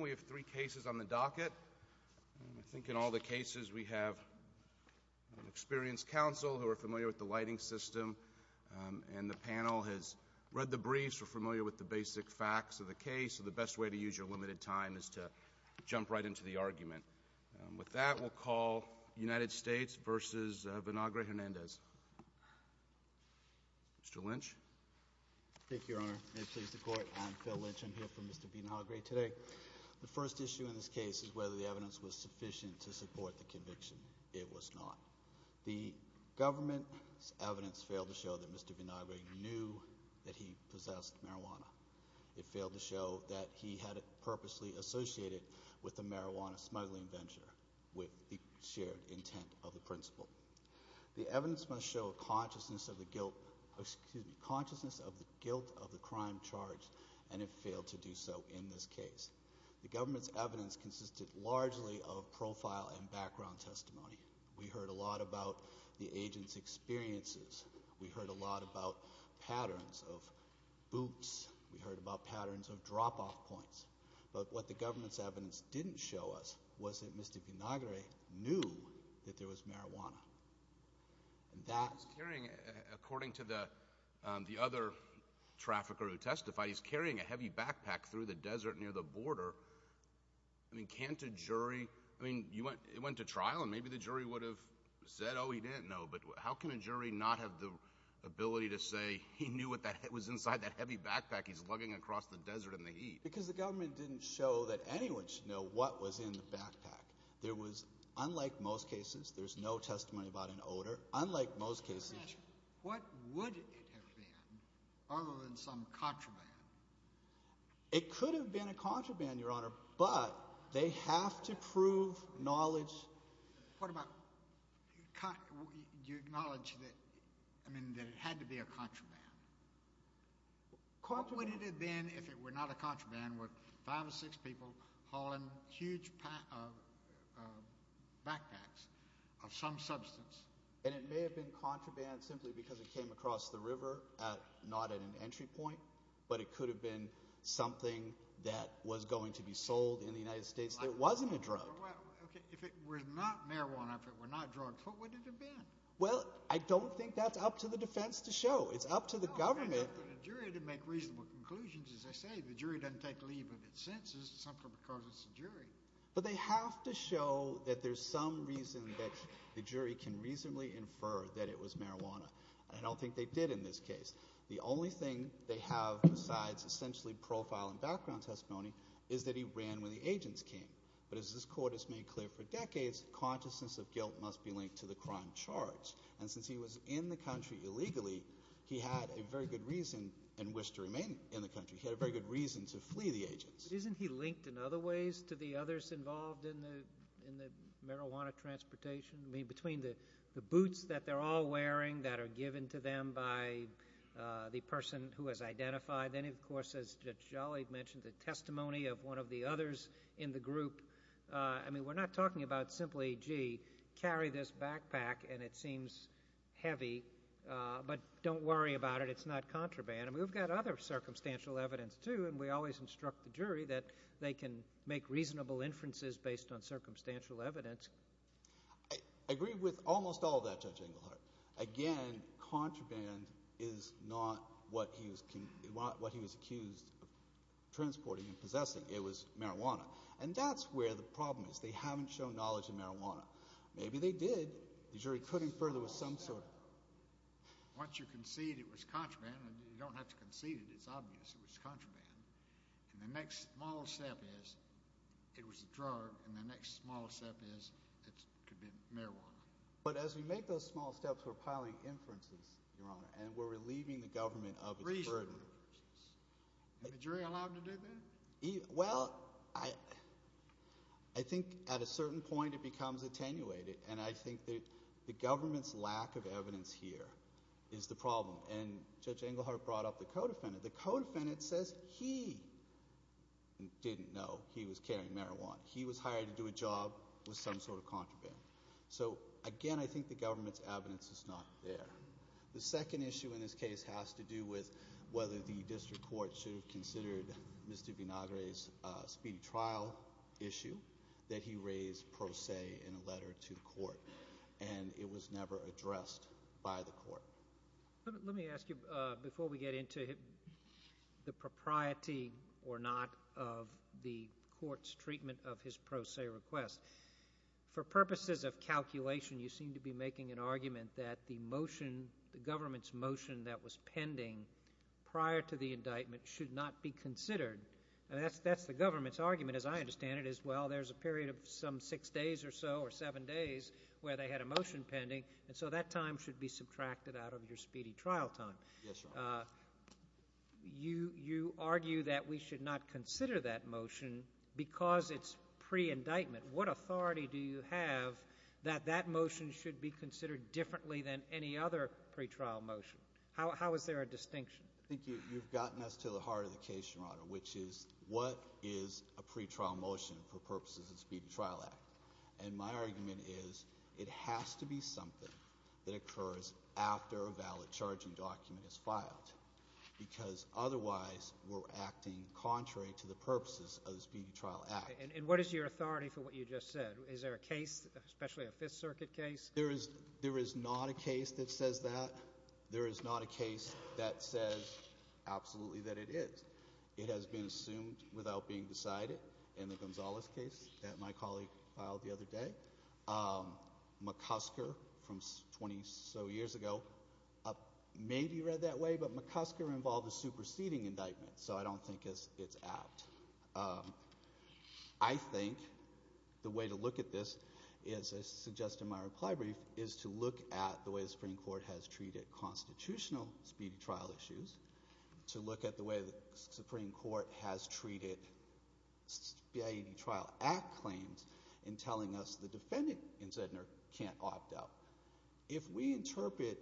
We have three cases on the docket. I think in all the cases we have an experienced counsel who are familiar with the lighting system and the panel has read the briefs, are familiar with the basic facts of the case, so the best way to use your limited time is to jump right into the argument. With that, we'll call United States v. Vinagre-Hernandez. Mr. Lynch? Thank you, Your Honor. May it please the Court. I'm Phil Lynch. I'm here for Mr. Vinagre today. The first issue in this case is whether the evidence was sufficient to support the conviction. It was not. The government's evidence failed to show that Mr. Vinagre knew that he possessed marijuana. It failed to show that he had it purposely associated with the marijuana smuggling venture with the shared intent of the principal. The evidence must show a consciousness of the guilt of the crime charged and it failed to do so in this case. The government's evidence consisted largely of profile and background testimony. We heard a lot about the agent's experiences. We heard a lot about patterns of boots. We heard about patterns of drop-off points. But what the government's evidence didn't show us was that Mr. Vinagre knew that there was marijuana. According to the other trafficker who testified, he's carrying a heavy backpack through the desert near the border. I mean, can't a jury... I mean, it went to trial and maybe the jury would have said, oh, he didn't know. But how can a jury not have the ability to say he knew what was inside that heavy backpack he's lugging across the desert in the heat? Because the government didn't show that anyone should know what was in the backpack. There was, unlike most cases, there's no testimony about an odor. Unlike most cases... What would it have been other than some contraband? It could have been a contraband, Your Honor, but they have to prove knowledge... What about... you acknowledge that... I mean, that it had to be a contraband. What would it have been if it were not a contraband, with five or six people hauling huge backpacks of some substance? And it may have been contraband simply because it came across the river, not at an entry point, but it could have been something that was going to be sold in the United States that wasn't a drug. Well, okay, if it were not marijuana, if it were not drugs, what would it have been? Well, I don't think that's up to the defense to show. It's up to the government... Well, it's up to the jury to make reasonable conclusions. As I say, the jury doesn't take But they have to show that there's some reason that the jury can reasonably infer that it was marijuana. And I don't think they did in this case. The only thing they have besides essentially profile and background testimony is that he ran when the agents came. But as this Court has made clear for decades, consciousness of guilt must be linked to the crime charged. And since he was in the country illegally, he had a very good reason and wished to remain in the country. He had a very good reason to flee the agents. But isn't he linked in other ways to the others involved in the marijuana transportation? I mean, between the boots that they're all wearing that are given to them by the person who has identified, then, of course, as Judge Jolly mentioned, the testimony of one of the others in the group. I mean, we're not talking about simply, gee, carry this backpack and it seems heavy, but don't worry about it. It's not contraband. I mean, we've got other people in the country that they can make reasonable inferences based on circumstantial evidence. I agree with almost all of that, Judge Englehart. Again, contraband is not what he was accused of transporting and possessing. It was marijuana. And that's where the problem is. They haven't shown knowledge in marijuana. Maybe they did. The jury could infer there was some sort of... Once you concede it was contraband, and you don't have to concede it's obvious it was contraband, and the next small step is it was a drug, and the next small step is it could have been marijuana. But as we make those small steps, we're piling inferences, Your Honor, and we're relieving the government of its burden. Reasonable inferences. Is the jury allowed to do that? Well, I think at a certain point it becomes attenuated, and I think that the government's lack of evidence here is the problem. And Judge Englehart brought up the co-defendant. The co-defendant says he didn't know he was carrying marijuana. He was hired to do a job with some sort of contraband. So again, I think the government's evidence is not there. The second issue in this case has to do with whether the district court should have considered Mr. Vinagre's speedy trial issue that he raised pro se in a letter to the court, and it was never addressed by the court. Let me ask you before we get into the propriety or not of the court's treatment of his pro se request. For purposes of calculation, you seem to be making an argument that the government's motion that was pending prior to the indictment should not be considered. That's the government's argument, as I understand it, is, well, there's a period of some six days or so or seven days where they had a motion pending, and so that time should be subtracted out of your speedy trial time. Yes, Your Honor. You argue that we should not consider that motion because it's pre-indictment. What authority do you have that that motion should be considered differently than any other pretrial motion? How is there a distinction? I think you've gotten us to the heart of the case, Your Honor, which is what is a pretrial motion for purposes of the Speedy Trial Act. And my argument is it has to be something that occurs after a valid charging document is filed, because otherwise we're acting contrary to the purposes of the Speedy Trial Act. And what is your authority for what you just said? Is there a case, especially a Fifth Circuit case? There is not a case that says that. There is not a case that says absolutely that it is. It has been assumed without being decided in the Gonzales case that my colleague filed the other day. McCusker from 20-so years ago may be read that way, but McCusker involved a superseding indictment, so I don't think it's apt. I think the way to look at this, as I suggest in my reply brief, is to look at the way the Supreme Court has treated constitutional speedy trial issues, to look at the way the Speedy Trial Act claims in telling us the defendant in Sednor can't opt out. If we interpret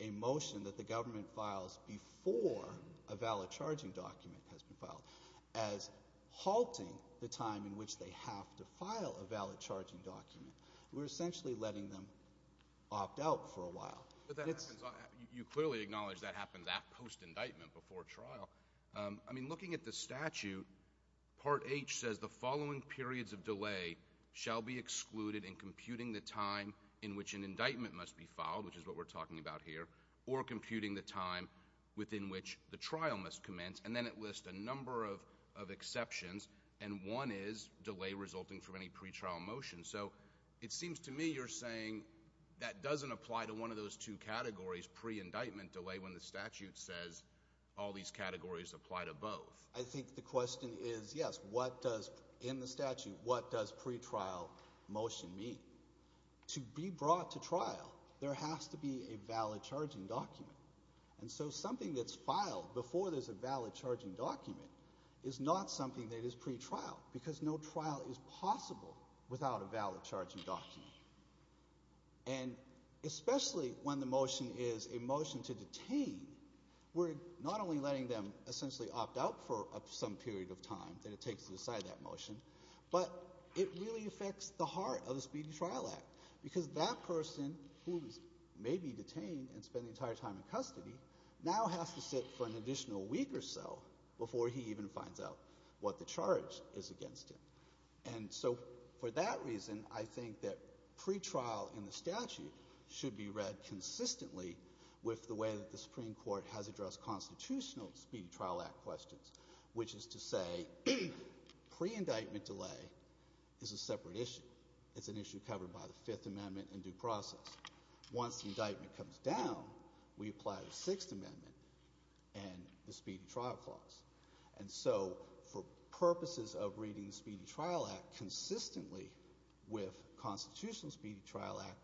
a motion that the government files before a valid charging document has been filed as halting the time in which they have to file a valid charging document, we're essentially letting them opt out for a while. But that happens on — you clearly acknowledge that happens at — post-indictment, before trial. I mean, looking at the statute, Part H says the following periods of delay shall be excluded in computing the time in which an indictment must be filed, which is what we're talking about here, or computing the time within which the trial must commence. And then it lists a number of exceptions, and one is delay resulting from any pretrial motion. So it seems to me you're saying that doesn't apply to one of those two categories, pre-indictment delay, when the statute says all these categories apply to both. I think the question is, yes, what does — in the statute, what does pretrial motion mean? To be brought to trial, there has to be a valid charging document. And so something that's filed before there's a valid charging document is not something that is pretrial, because no trial is possible without a valid charging document. And especially when the motion is a motion to detain, we're not only letting them essentially opt out for some period of time that it takes to decide that motion, but it really affects the heart of the Speedy Trial Act, because that person who may be detained and spend the entire time in custody now has to sit for an additional week or so before he even finds out what the charge is against him. And so for that reason, I think that pretrial in the statute should be read consistently with the way that the Supreme Court has addressed constitutional Speedy Trial Act questions, which is to say pre-indictment delay is a separate issue. It's an issue covered by the Fifth Amendment and due process. Once the indictment comes down, we apply the Sixth Amendment and the Speedy Trial Clause. And so for purposes of reading the Speedy Trial Act consistently with constitutional Speedy Trial Act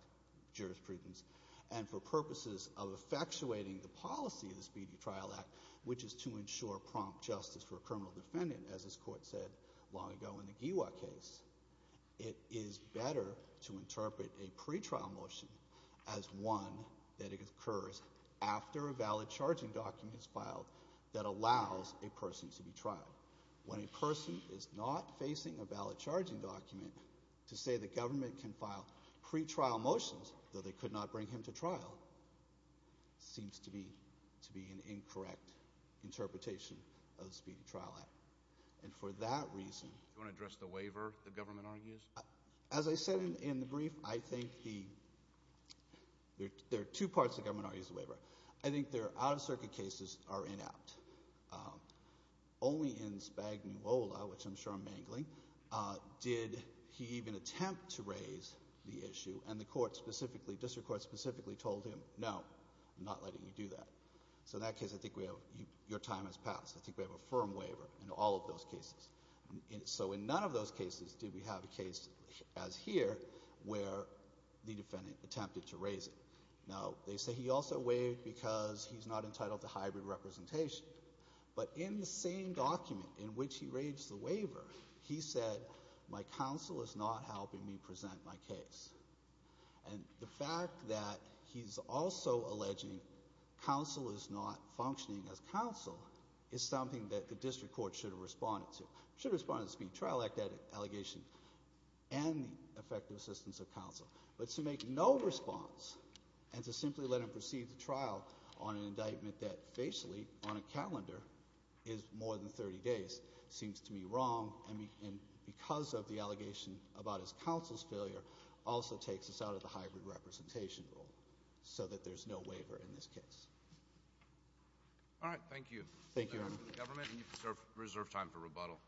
jurisprudence, and for purposes of effectuating the policy of the Speedy Trial Act, which is to ensure prompt justice for a criminal defendant, as this Court said long ago in the Giwa case, it is better to interpret a pretrial motion as one that occurs after a valid charging document is filed that allows a person to be trialed. When a person is not facing a valid charging document, to say the government can file pretrial motions, though they could not bring him to trial, seems to be an incorrect interpretation of the Speedy Trial Act. And for that reason... Do you want to address the waiver the government argues? As I said in the brief, I think there are two parts the government argues the waiver. I think their out-of-circuit cases are inept. Only in Spagnuola, which I'm sure I'm mingling, did he even attempt to raise the issue, and the court specifically, district court specifically told him, no, I'm not letting you do that. So in that case, I think we have your time has passed. I think we have a firm waiver in all of those cases. So in none of those cases did we have a case as here where the defendant attempted to raise it. Now, they say he also waived because he's not entitled to hybrid representation. But in the same document in which he raised the waiver, he said, my counsel is not helping me present my case. And the fact that he's also alleging counsel is not functioning as counsel is something that the district court should have responded to. Should have responded to the Speed Trial Act allegation and the effective assistance of counsel. But to make no response and to simply let him proceed the trial on an indictment that facially on a calendar is more than 30 days seems to me wrong and because of the allegation about his counsel's failure also takes us out of the hybrid representation rule so that there's no waiver in this case. All right. Thank you. Thank you, Your Honor. Reserved time for rebuttal.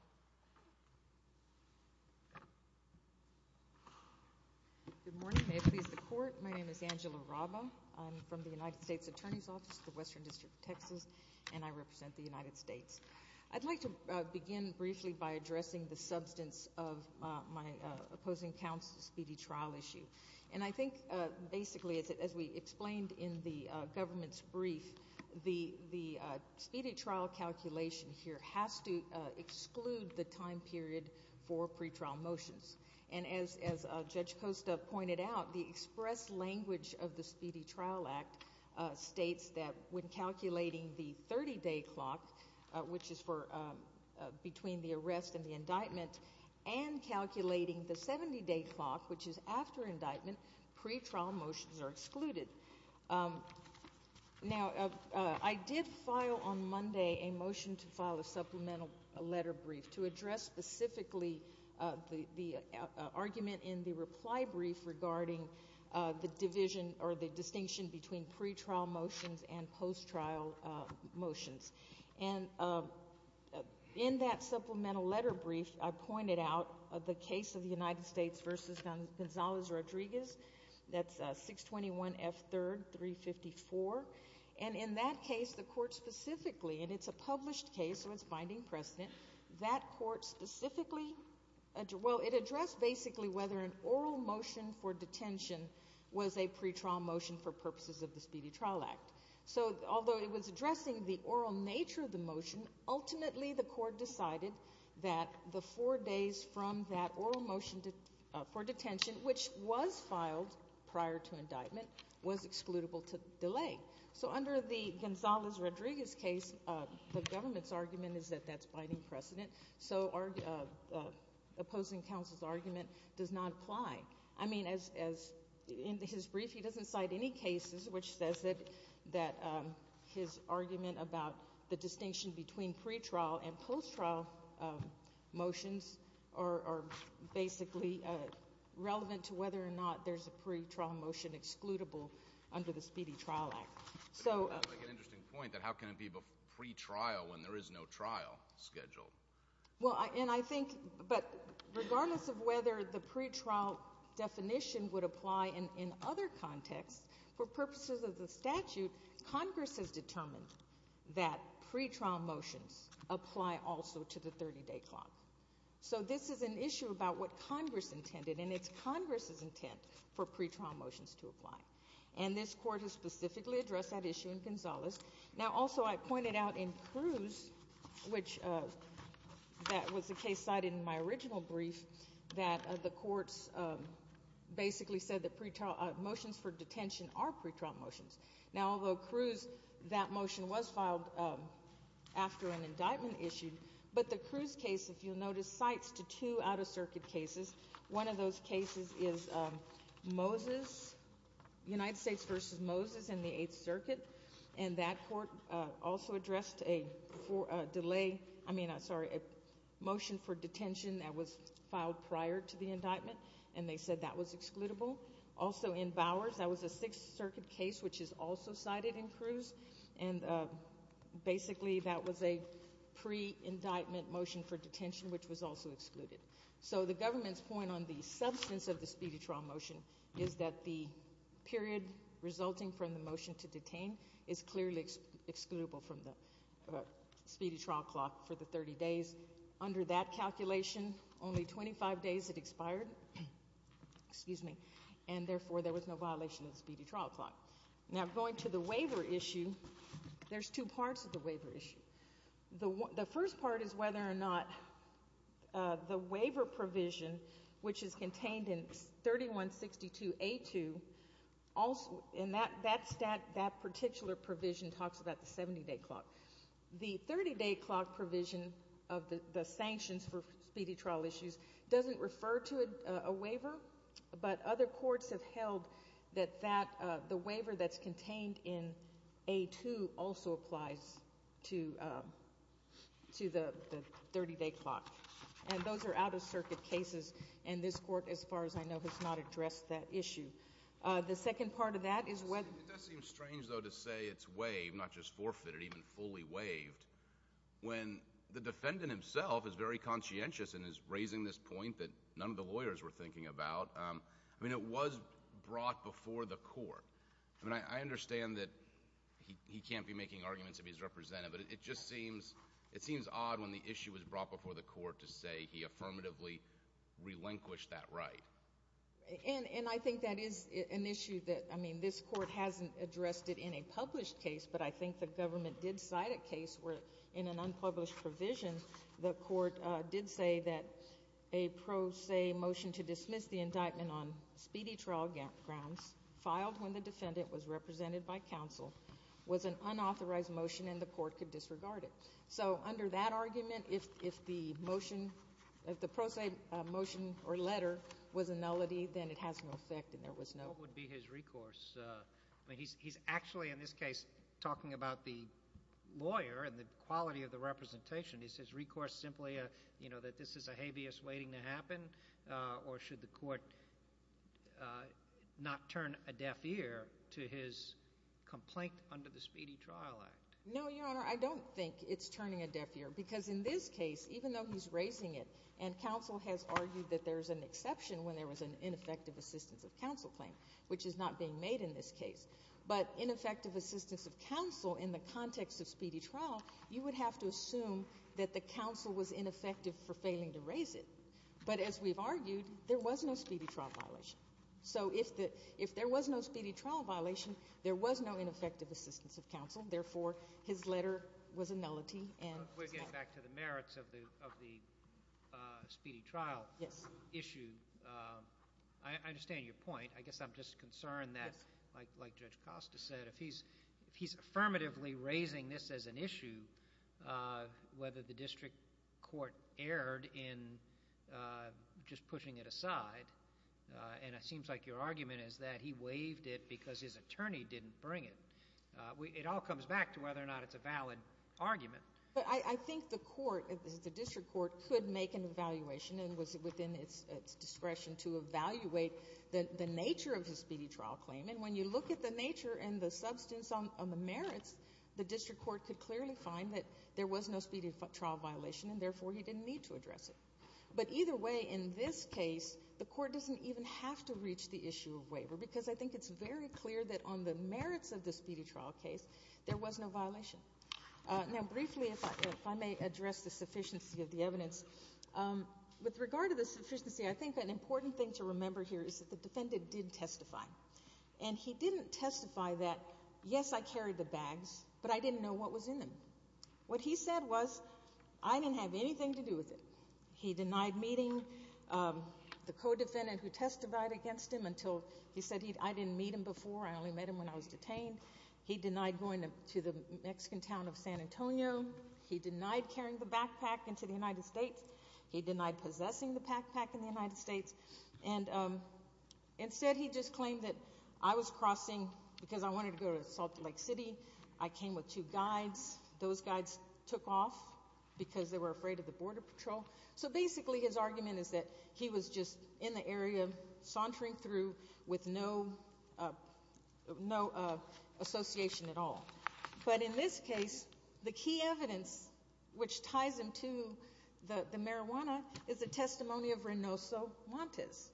Good morning. May it please the Court. My name is Angela Raba. I'm from the United States Attorney's Office, the Western District of Texas, and I represent the United States. I'd like to begin briefly by addressing the substance of my opposing counsel's speedy trial issue. And I think basically, as we explained in the government's brief, the speedy trial calculation here has to exclude the time period for pretrial motions. And as Judge Costa pointed out, the express language of the Speedy Trial Act states that when calculating the 30-day clock, which is for between the arrest and the indictment, and calculating the 70-day clock, which is after indictment, pretrial motions are excluded. Now, I did file on Monday a motion to file a supplemental letter brief to address specifically the argument in the reply brief regarding the division or the distinction between pretrial motions and post-trial motions. And in that case, the court specifically, and it's a published case, so it's binding precedent, that court specifically, well, it addressed basically whether an oral motion for detention was a pretrial motion for purposes of the Speedy Trial Act. So although it was addressing the oral nature of the motion, ultimately the court decided that the four days from that oral motion for detention, which was filed prior to indictment, was excludable to delay. So under the Gonzales-Rodriguez case, the government's argument is that that's binding precedent. So our opposing counsel's argument does not apply. I mean, as in his brief, he doesn't cite any cases which says that his argument about the distinction between pretrial and post-trial motions are basically relevant to whether or not there's a pretrial motion excludable under the Speedy Trial Act. So... That's an interesting point, that how can it be pretrial when there is no trial scheduled? Well, and I think, but regardless of whether the pretrial definition would apply in other contexts, for purposes of the statute, Congress has determined that pretrial motions apply also to the 30-day clock. So this is an issue about what Congress intended, and it's Congress's intent for pretrial motions to apply. And this court has specifically addressed that issue in Gonzales. Now, also, I pointed out in Cruz, which that was a case cited in my case, that the motions for detention are pretrial motions. Now, although Cruz, that motion was filed after an indictment issued, but the Cruz case, if you'll notice, cites to two out-of-circuit cases. One of those cases is Moses, United States v. Moses in the Eighth Circuit, and that court also addressed a delay, I mean, sorry, a motion for detention that was filed prior to the indictment, and they said that was excludable. Also in Bowers, that was a Sixth Circuit case, which is also cited in Cruz, and basically that was a pre-indictment motion for detention, which was also excluded. So the government's point on the substance of the speedy trial motion is that the period resulting from the motion to detain is clearly excludable from the speedy trial clock for the 30 days. Under that calculation, only 25 days had expired, and therefore there was no violation of the speedy trial clock. Now, going to the waiver issue, there's two parts of the waiver issue. The first part is whether or not the waiver provision, which is contained in 3162A2, and that particular provision talks about the 70-day clock. The 30-day clock provision of the sanctions for speedy trial issues doesn't refer to a waiver, but other courts have held that the waiver that's contained in A2 also applies to the 30-day clock. And those are out-of-circuit cases, and this court, as far as I know, has not addressed that issue. The second part of that is whether— It does seem strange, though, to say it's waived, not just forfeited, even fully waived, when the defendant himself is very conscientious and is raising this point that none of the lawyers were thinking about. I mean, it was brought before the court. I mean, I understand that he can't be making arguments if he's represented, but it just seems odd when the issue is brought before the court to say he affirmatively relinquished that right. And I think that is an issue that—I mean, this court hasn't addressed it in a published case, but I think the government did cite a case where, in an unpublished provision, the court did say that a pro se motion to dismiss the indictment on speedy trial grounds filed when the defendant was represented by counsel was an unauthorized motion and the has no effect and there was no— What would be his recourse? I mean, he's actually, in this case, talking about the lawyer and the quality of the representation. Is his recourse simply, you know, that this is a habeas waiting to happen, or should the court not turn a deaf ear to his complaint under the Speedy Trial Act? No, Your Honor, I don't think it's turning a deaf ear, because in this case, even though he's raising it, and counsel has argued that there's an exception when there was an ineffective assistance of counsel claim, which is not being made in this case, but ineffective assistance of counsel in the context of speedy trial, you would have to assume that the counsel was ineffective for failing to raise it. But as we've argued, there was no speedy trial violation. So if there was no speedy trial violation, there was no ineffective assistance of counsel. Therefore, his letter was a nullity and— We're getting back to the merits of the speedy trial issue. I understand your point. I guess I'm just concerned that, like Judge Costa said, if he's affirmatively raising this as an issue, whether the district court erred in just pushing it aside, and it seems like your argument is that he waived it because his attorney didn't bring it, it all comes back to whether or not it's a valid argument. But I think the court, the district court, could make an evaluation and was within its discretion to evaluate the nature of his speedy trial claim. And when you look at the nature and the substance on the merits, the district court could clearly find that there was no speedy trial violation, and therefore, he didn't need to address it. But either way, in this case, the court doesn't even have to reach the issue of waiver, because I think it's very clear that on the merits of the speedy trial case, there was no violation. Now, briefly, if I may address the sufficiency of the evidence, with regard to the sufficiency, I think an important thing to remember here is that the defendant did testify. And he didn't testify that, yes, I carried the bags, but I didn't know what was in them. What he said was, I didn't have anything to do with it. He denied meeting the co-defendant who testified against him until he said, I didn't meet him before, I only met him when I was detained. He denied going to the Mexican town of San Antonio. He denied carrying the backpack into the United States. He denied possessing the backpack in the United States. And instead, he just claimed that I was crossing because I wanted to go to Salt Lake City. I came with two guides. Those guides took off because they were afraid of the border patrol. So basically, his argument is that he was just in the area, sauntering through with no association at all. But in this case, the key evidence which ties him to the marijuana is the testimony of Reynoso Montes.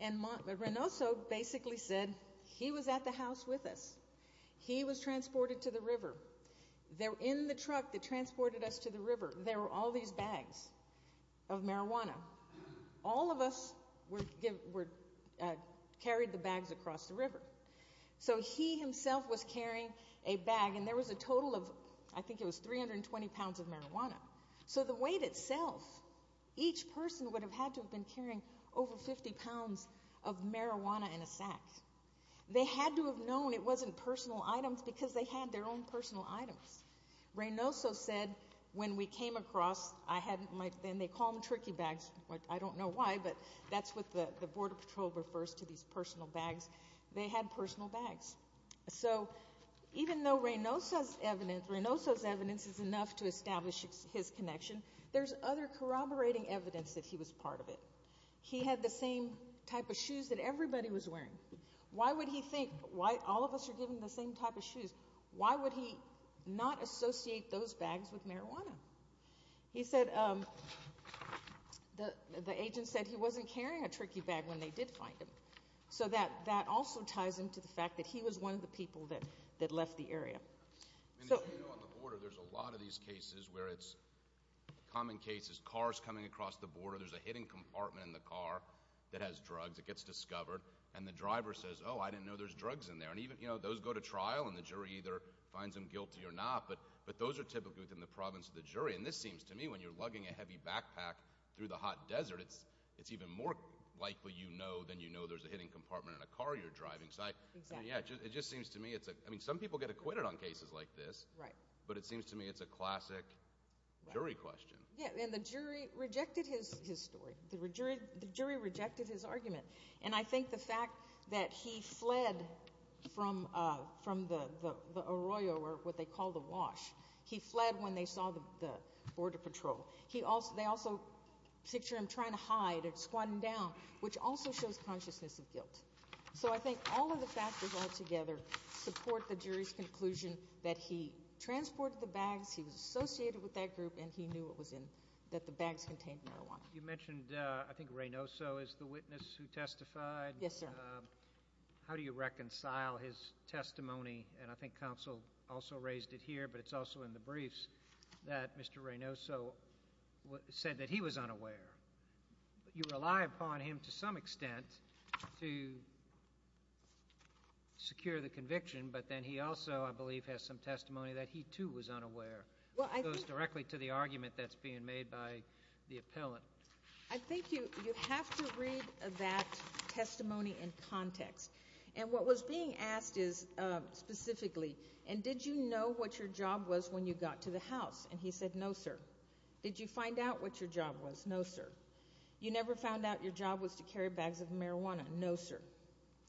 And Reynoso basically said he was at the house with us. He was transported to the river. In the truck that transported us to the river, there were all these bags of marijuana. All of us carried the bags across the river. So he himself was carrying a bag, and there was a total of, I think it was 320 pounds of marijuana. So the weight itself, each person would have had to have been carrying over 50 pounds of marijuana in a sack. They had to have known it wasn't personal items because they had their own personal items. Reynoso said when we came across, they call them tricky bags. I don't know why, but that's what the border patrol refers to, these personal bags. They had personal bags. So even though Reynoso's evidence is enough to establish his connection, there's other corroborating evidence that he was part of it. He had the same type of shoes that everybody was wearing. Why would he not associate those bags with marijuana? The agent said he wasn't carrying a tricky bag when they did find him. So that also ties into the fact that he was one of the people that left the area. As you know, on the border, there's a lot of these cases where it's common cases. Cars coming across the border. There's a hidden compartment in the car that has drugs. It gets discovered, and the jury either finds him guilty or not, but those are typically within the province of the jury. This seems to me, when you're lugging a heavy backpack through the hot desert, it's even more likely you know than you know there's a hidden compartment in a car you're driving. Some people get acquitted on cases like this, but it seems to me it's a classic jury question. Yeah, and the jury rejected his story. The jury rejected his argument, and I think the fact that he fled from the arroyo, or what they call the wash. He fled when they saw the border patrol. They also picture him trying to hide, squatting down, which also shows consciousness of guilt. So I think all of the factors all together support the jury's conclusion that he transported the bags, he was associated with that group, and he knew that the bags contained marijuana. You mentioned, I think Reynoso is the witness who testified. Yes, sir. How do you reconcile his testimony, and I think counsel also raised it here, but it's also in the briefs, that Mr. Reynoso said that he was unaware. You rely upon him to some extent to secure the conviction, but then he also, I believe, has some testimony that he, too, was unaware. It goes directly to the argument that's being made by the appellant. I think you have to read that testimony in context, and what was being asked is specifically, and did you know what your job was when you got to the house? And he said, no, sir. Did you find out what your job was? No, sir. You never found out your job was to carry bags of marijuana? No, sir.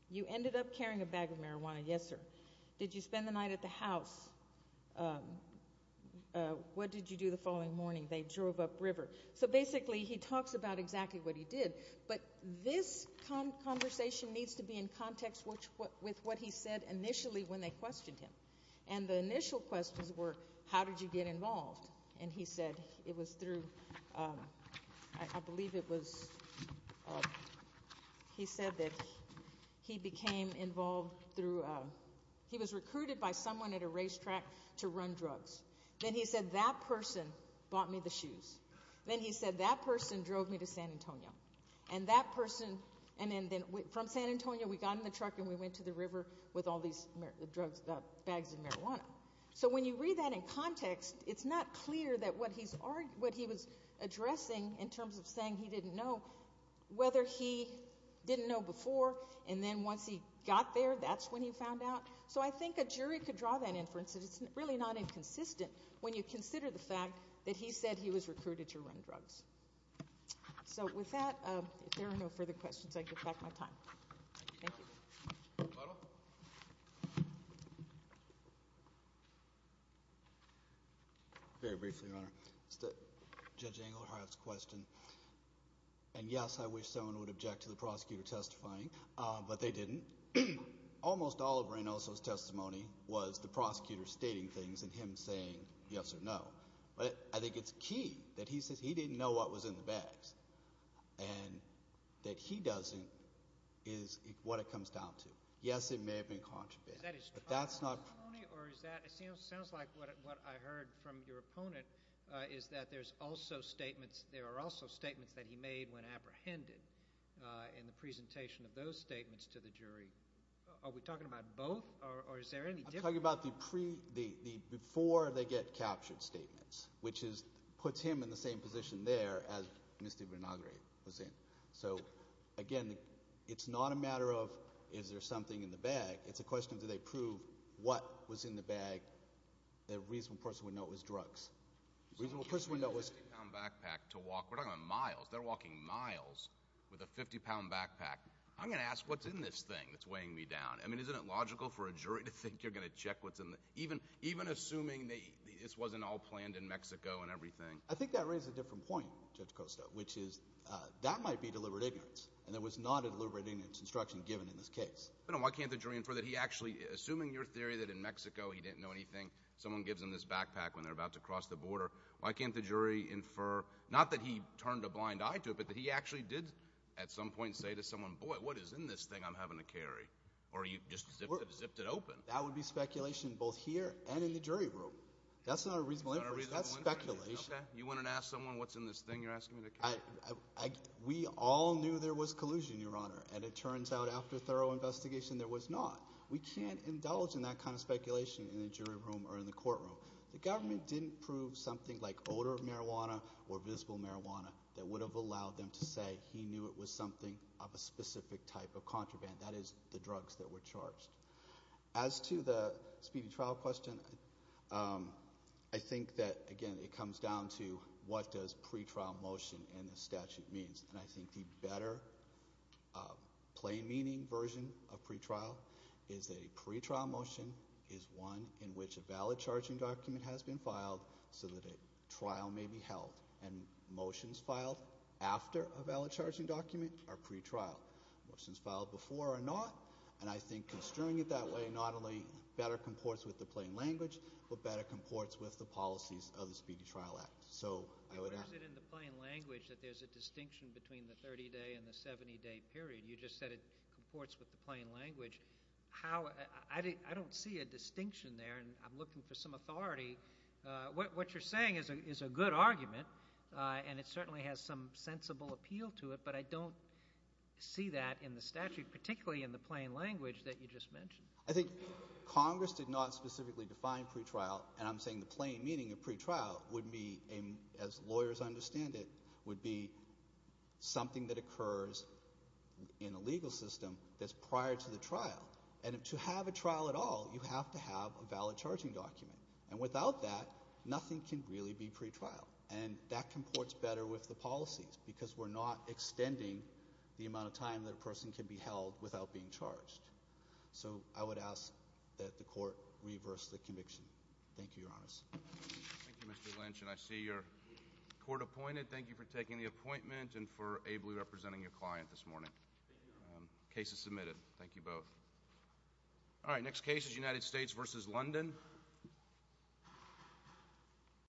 You ended up carrying a bag of marijuana? Yes, sir. Did you spend the night at the house? What did you do the following morning? They drove upriver. So basically he talks about exactly what he did, but this conversation needs to be in context with what he said initially when they questioned him. And the initial questions were, how did you get involved? And he said it was through, I believe it was, he said that he became involved through, he was recruited by someone at a racetrack to run drugs. Then he said, that person bought me the shoes. Then he said, that person drove me to San Antonio. And that person, and then from San Antonio we got in the truck and we went to the river with all these drugs, bags of marijuana. So when you read that in context, it's not clear that what he was addressing in terms of saying he didn't know, whether he didn't know before, and then once he got there, that's when he found out. So I think a jury could draw that inference. It's really not inconsistent when you consider the fact that he said he was recruited to run drugs. So with that, if there are no further questions, I give back my time. Thank you. Butler. Very briefly, Your Honor. Judge Engelhardt's question. And, yes, I wish someone would object to the prosecutor testifying, but they didn't. Almost all of Reynoso's testimony was the prosecutor stating things and him saying yes or no. But I think it's key that he says he didn't know what was in the bags and that he doesn't is what it comes down to. Yes, it may have been contraband. But that's not true. It sounds like what I heard from your opponent is that there's also statements that he made when apprehended in the presentation of those statements to the jury. Are we talking about both or is there any difference? I'm talking about the before they get captured statements, which puts him in the same position there as Mr. Vinagre was in. So, again, it's not a matter of is there something in the bag. It's a question of do they prove what was in the bag that a reasonable person would know it was drugs. A reasonable person would know it was— We're talking about miles. They're walking miles with a 50-pound backpack. I'm going to ask what's in this thing that's weighing me down. I mean, isn't it logical for a jury to think you're going to check what's in the— even assuming this wasn't all planned in Mexico and everything. I think that raises a different point, Judge Costa, which is that might be deliberate ignorance, and there was not a deliberate ignorance instruction given in this case. Why can't the jury infer that he actually—assuming your theory that in Mexico he didn't know anything, someone gives him this backpack when they're about to cross the border, why can't the jury infer not that he turned a blind eye to it, but that he actually did at some point say to someone, boy, what is in this thing I'm having to carry, or you just zipped it open? That would be speculation both here and in the jury room. That's not a reasonable inference. That's speculation. You want to ask someone what's in this thing you're asking me to carry? We all knew there was collusion, Your Honor, and it turns out after thorough investigation there was not. We can't indulge in that kind of speculation in the jury room or in the courtroom. The government didn't prove something like odor of marijuana or visible marijuana that would have allowed them to say he knew it was something of a specific type of contraband, that is, the drugs that were charged. As to the speedy trial question, I think that, again, it comes down to what does pretrial motion in the statute mean, and I think the better plain-meaning version of pretrial is that a pretrial motion is one in which a valid charging document has been filed so that a trial may be held, and motions filed after a valid charging document are pretrial. Motions filed before are not. And I think construing it that way not only better comports with the plain language but better comports with the policies of the Speedy Trial Act. So I would ask. You use it in the plain language that there's a distinction between the 30-day and the 70-day period. You just said it comports with the plain language. I don't see a distinction there, and I'm looking for some authority. What you're saying is a good argument, and it certainly has some sensible appeal to it, but I don't see that in the statute, particularly in the plain language that you just mentioned. I think Congress did not specifically define pretrial, and I'm saying the plain meaning of pretrial would be, as lawyers understand it, would be something that occurs in a legal system that's prior to the trial. And to have a trial at all, you have to have a valid charging document. And without that, nothing can really be pretrial, and that comports better with the policies because we're not extending the amount of time that a person can be held without being charged. So I would ask that the court reverse the conviction. Thank you, Your Honors. Thank you, Mr. Lynch, and I see you're court-appointed. Thank you for taking the appointment and for ably representing your client this morning. Case is submitted. Thank you both. All right, next case is United States v. London.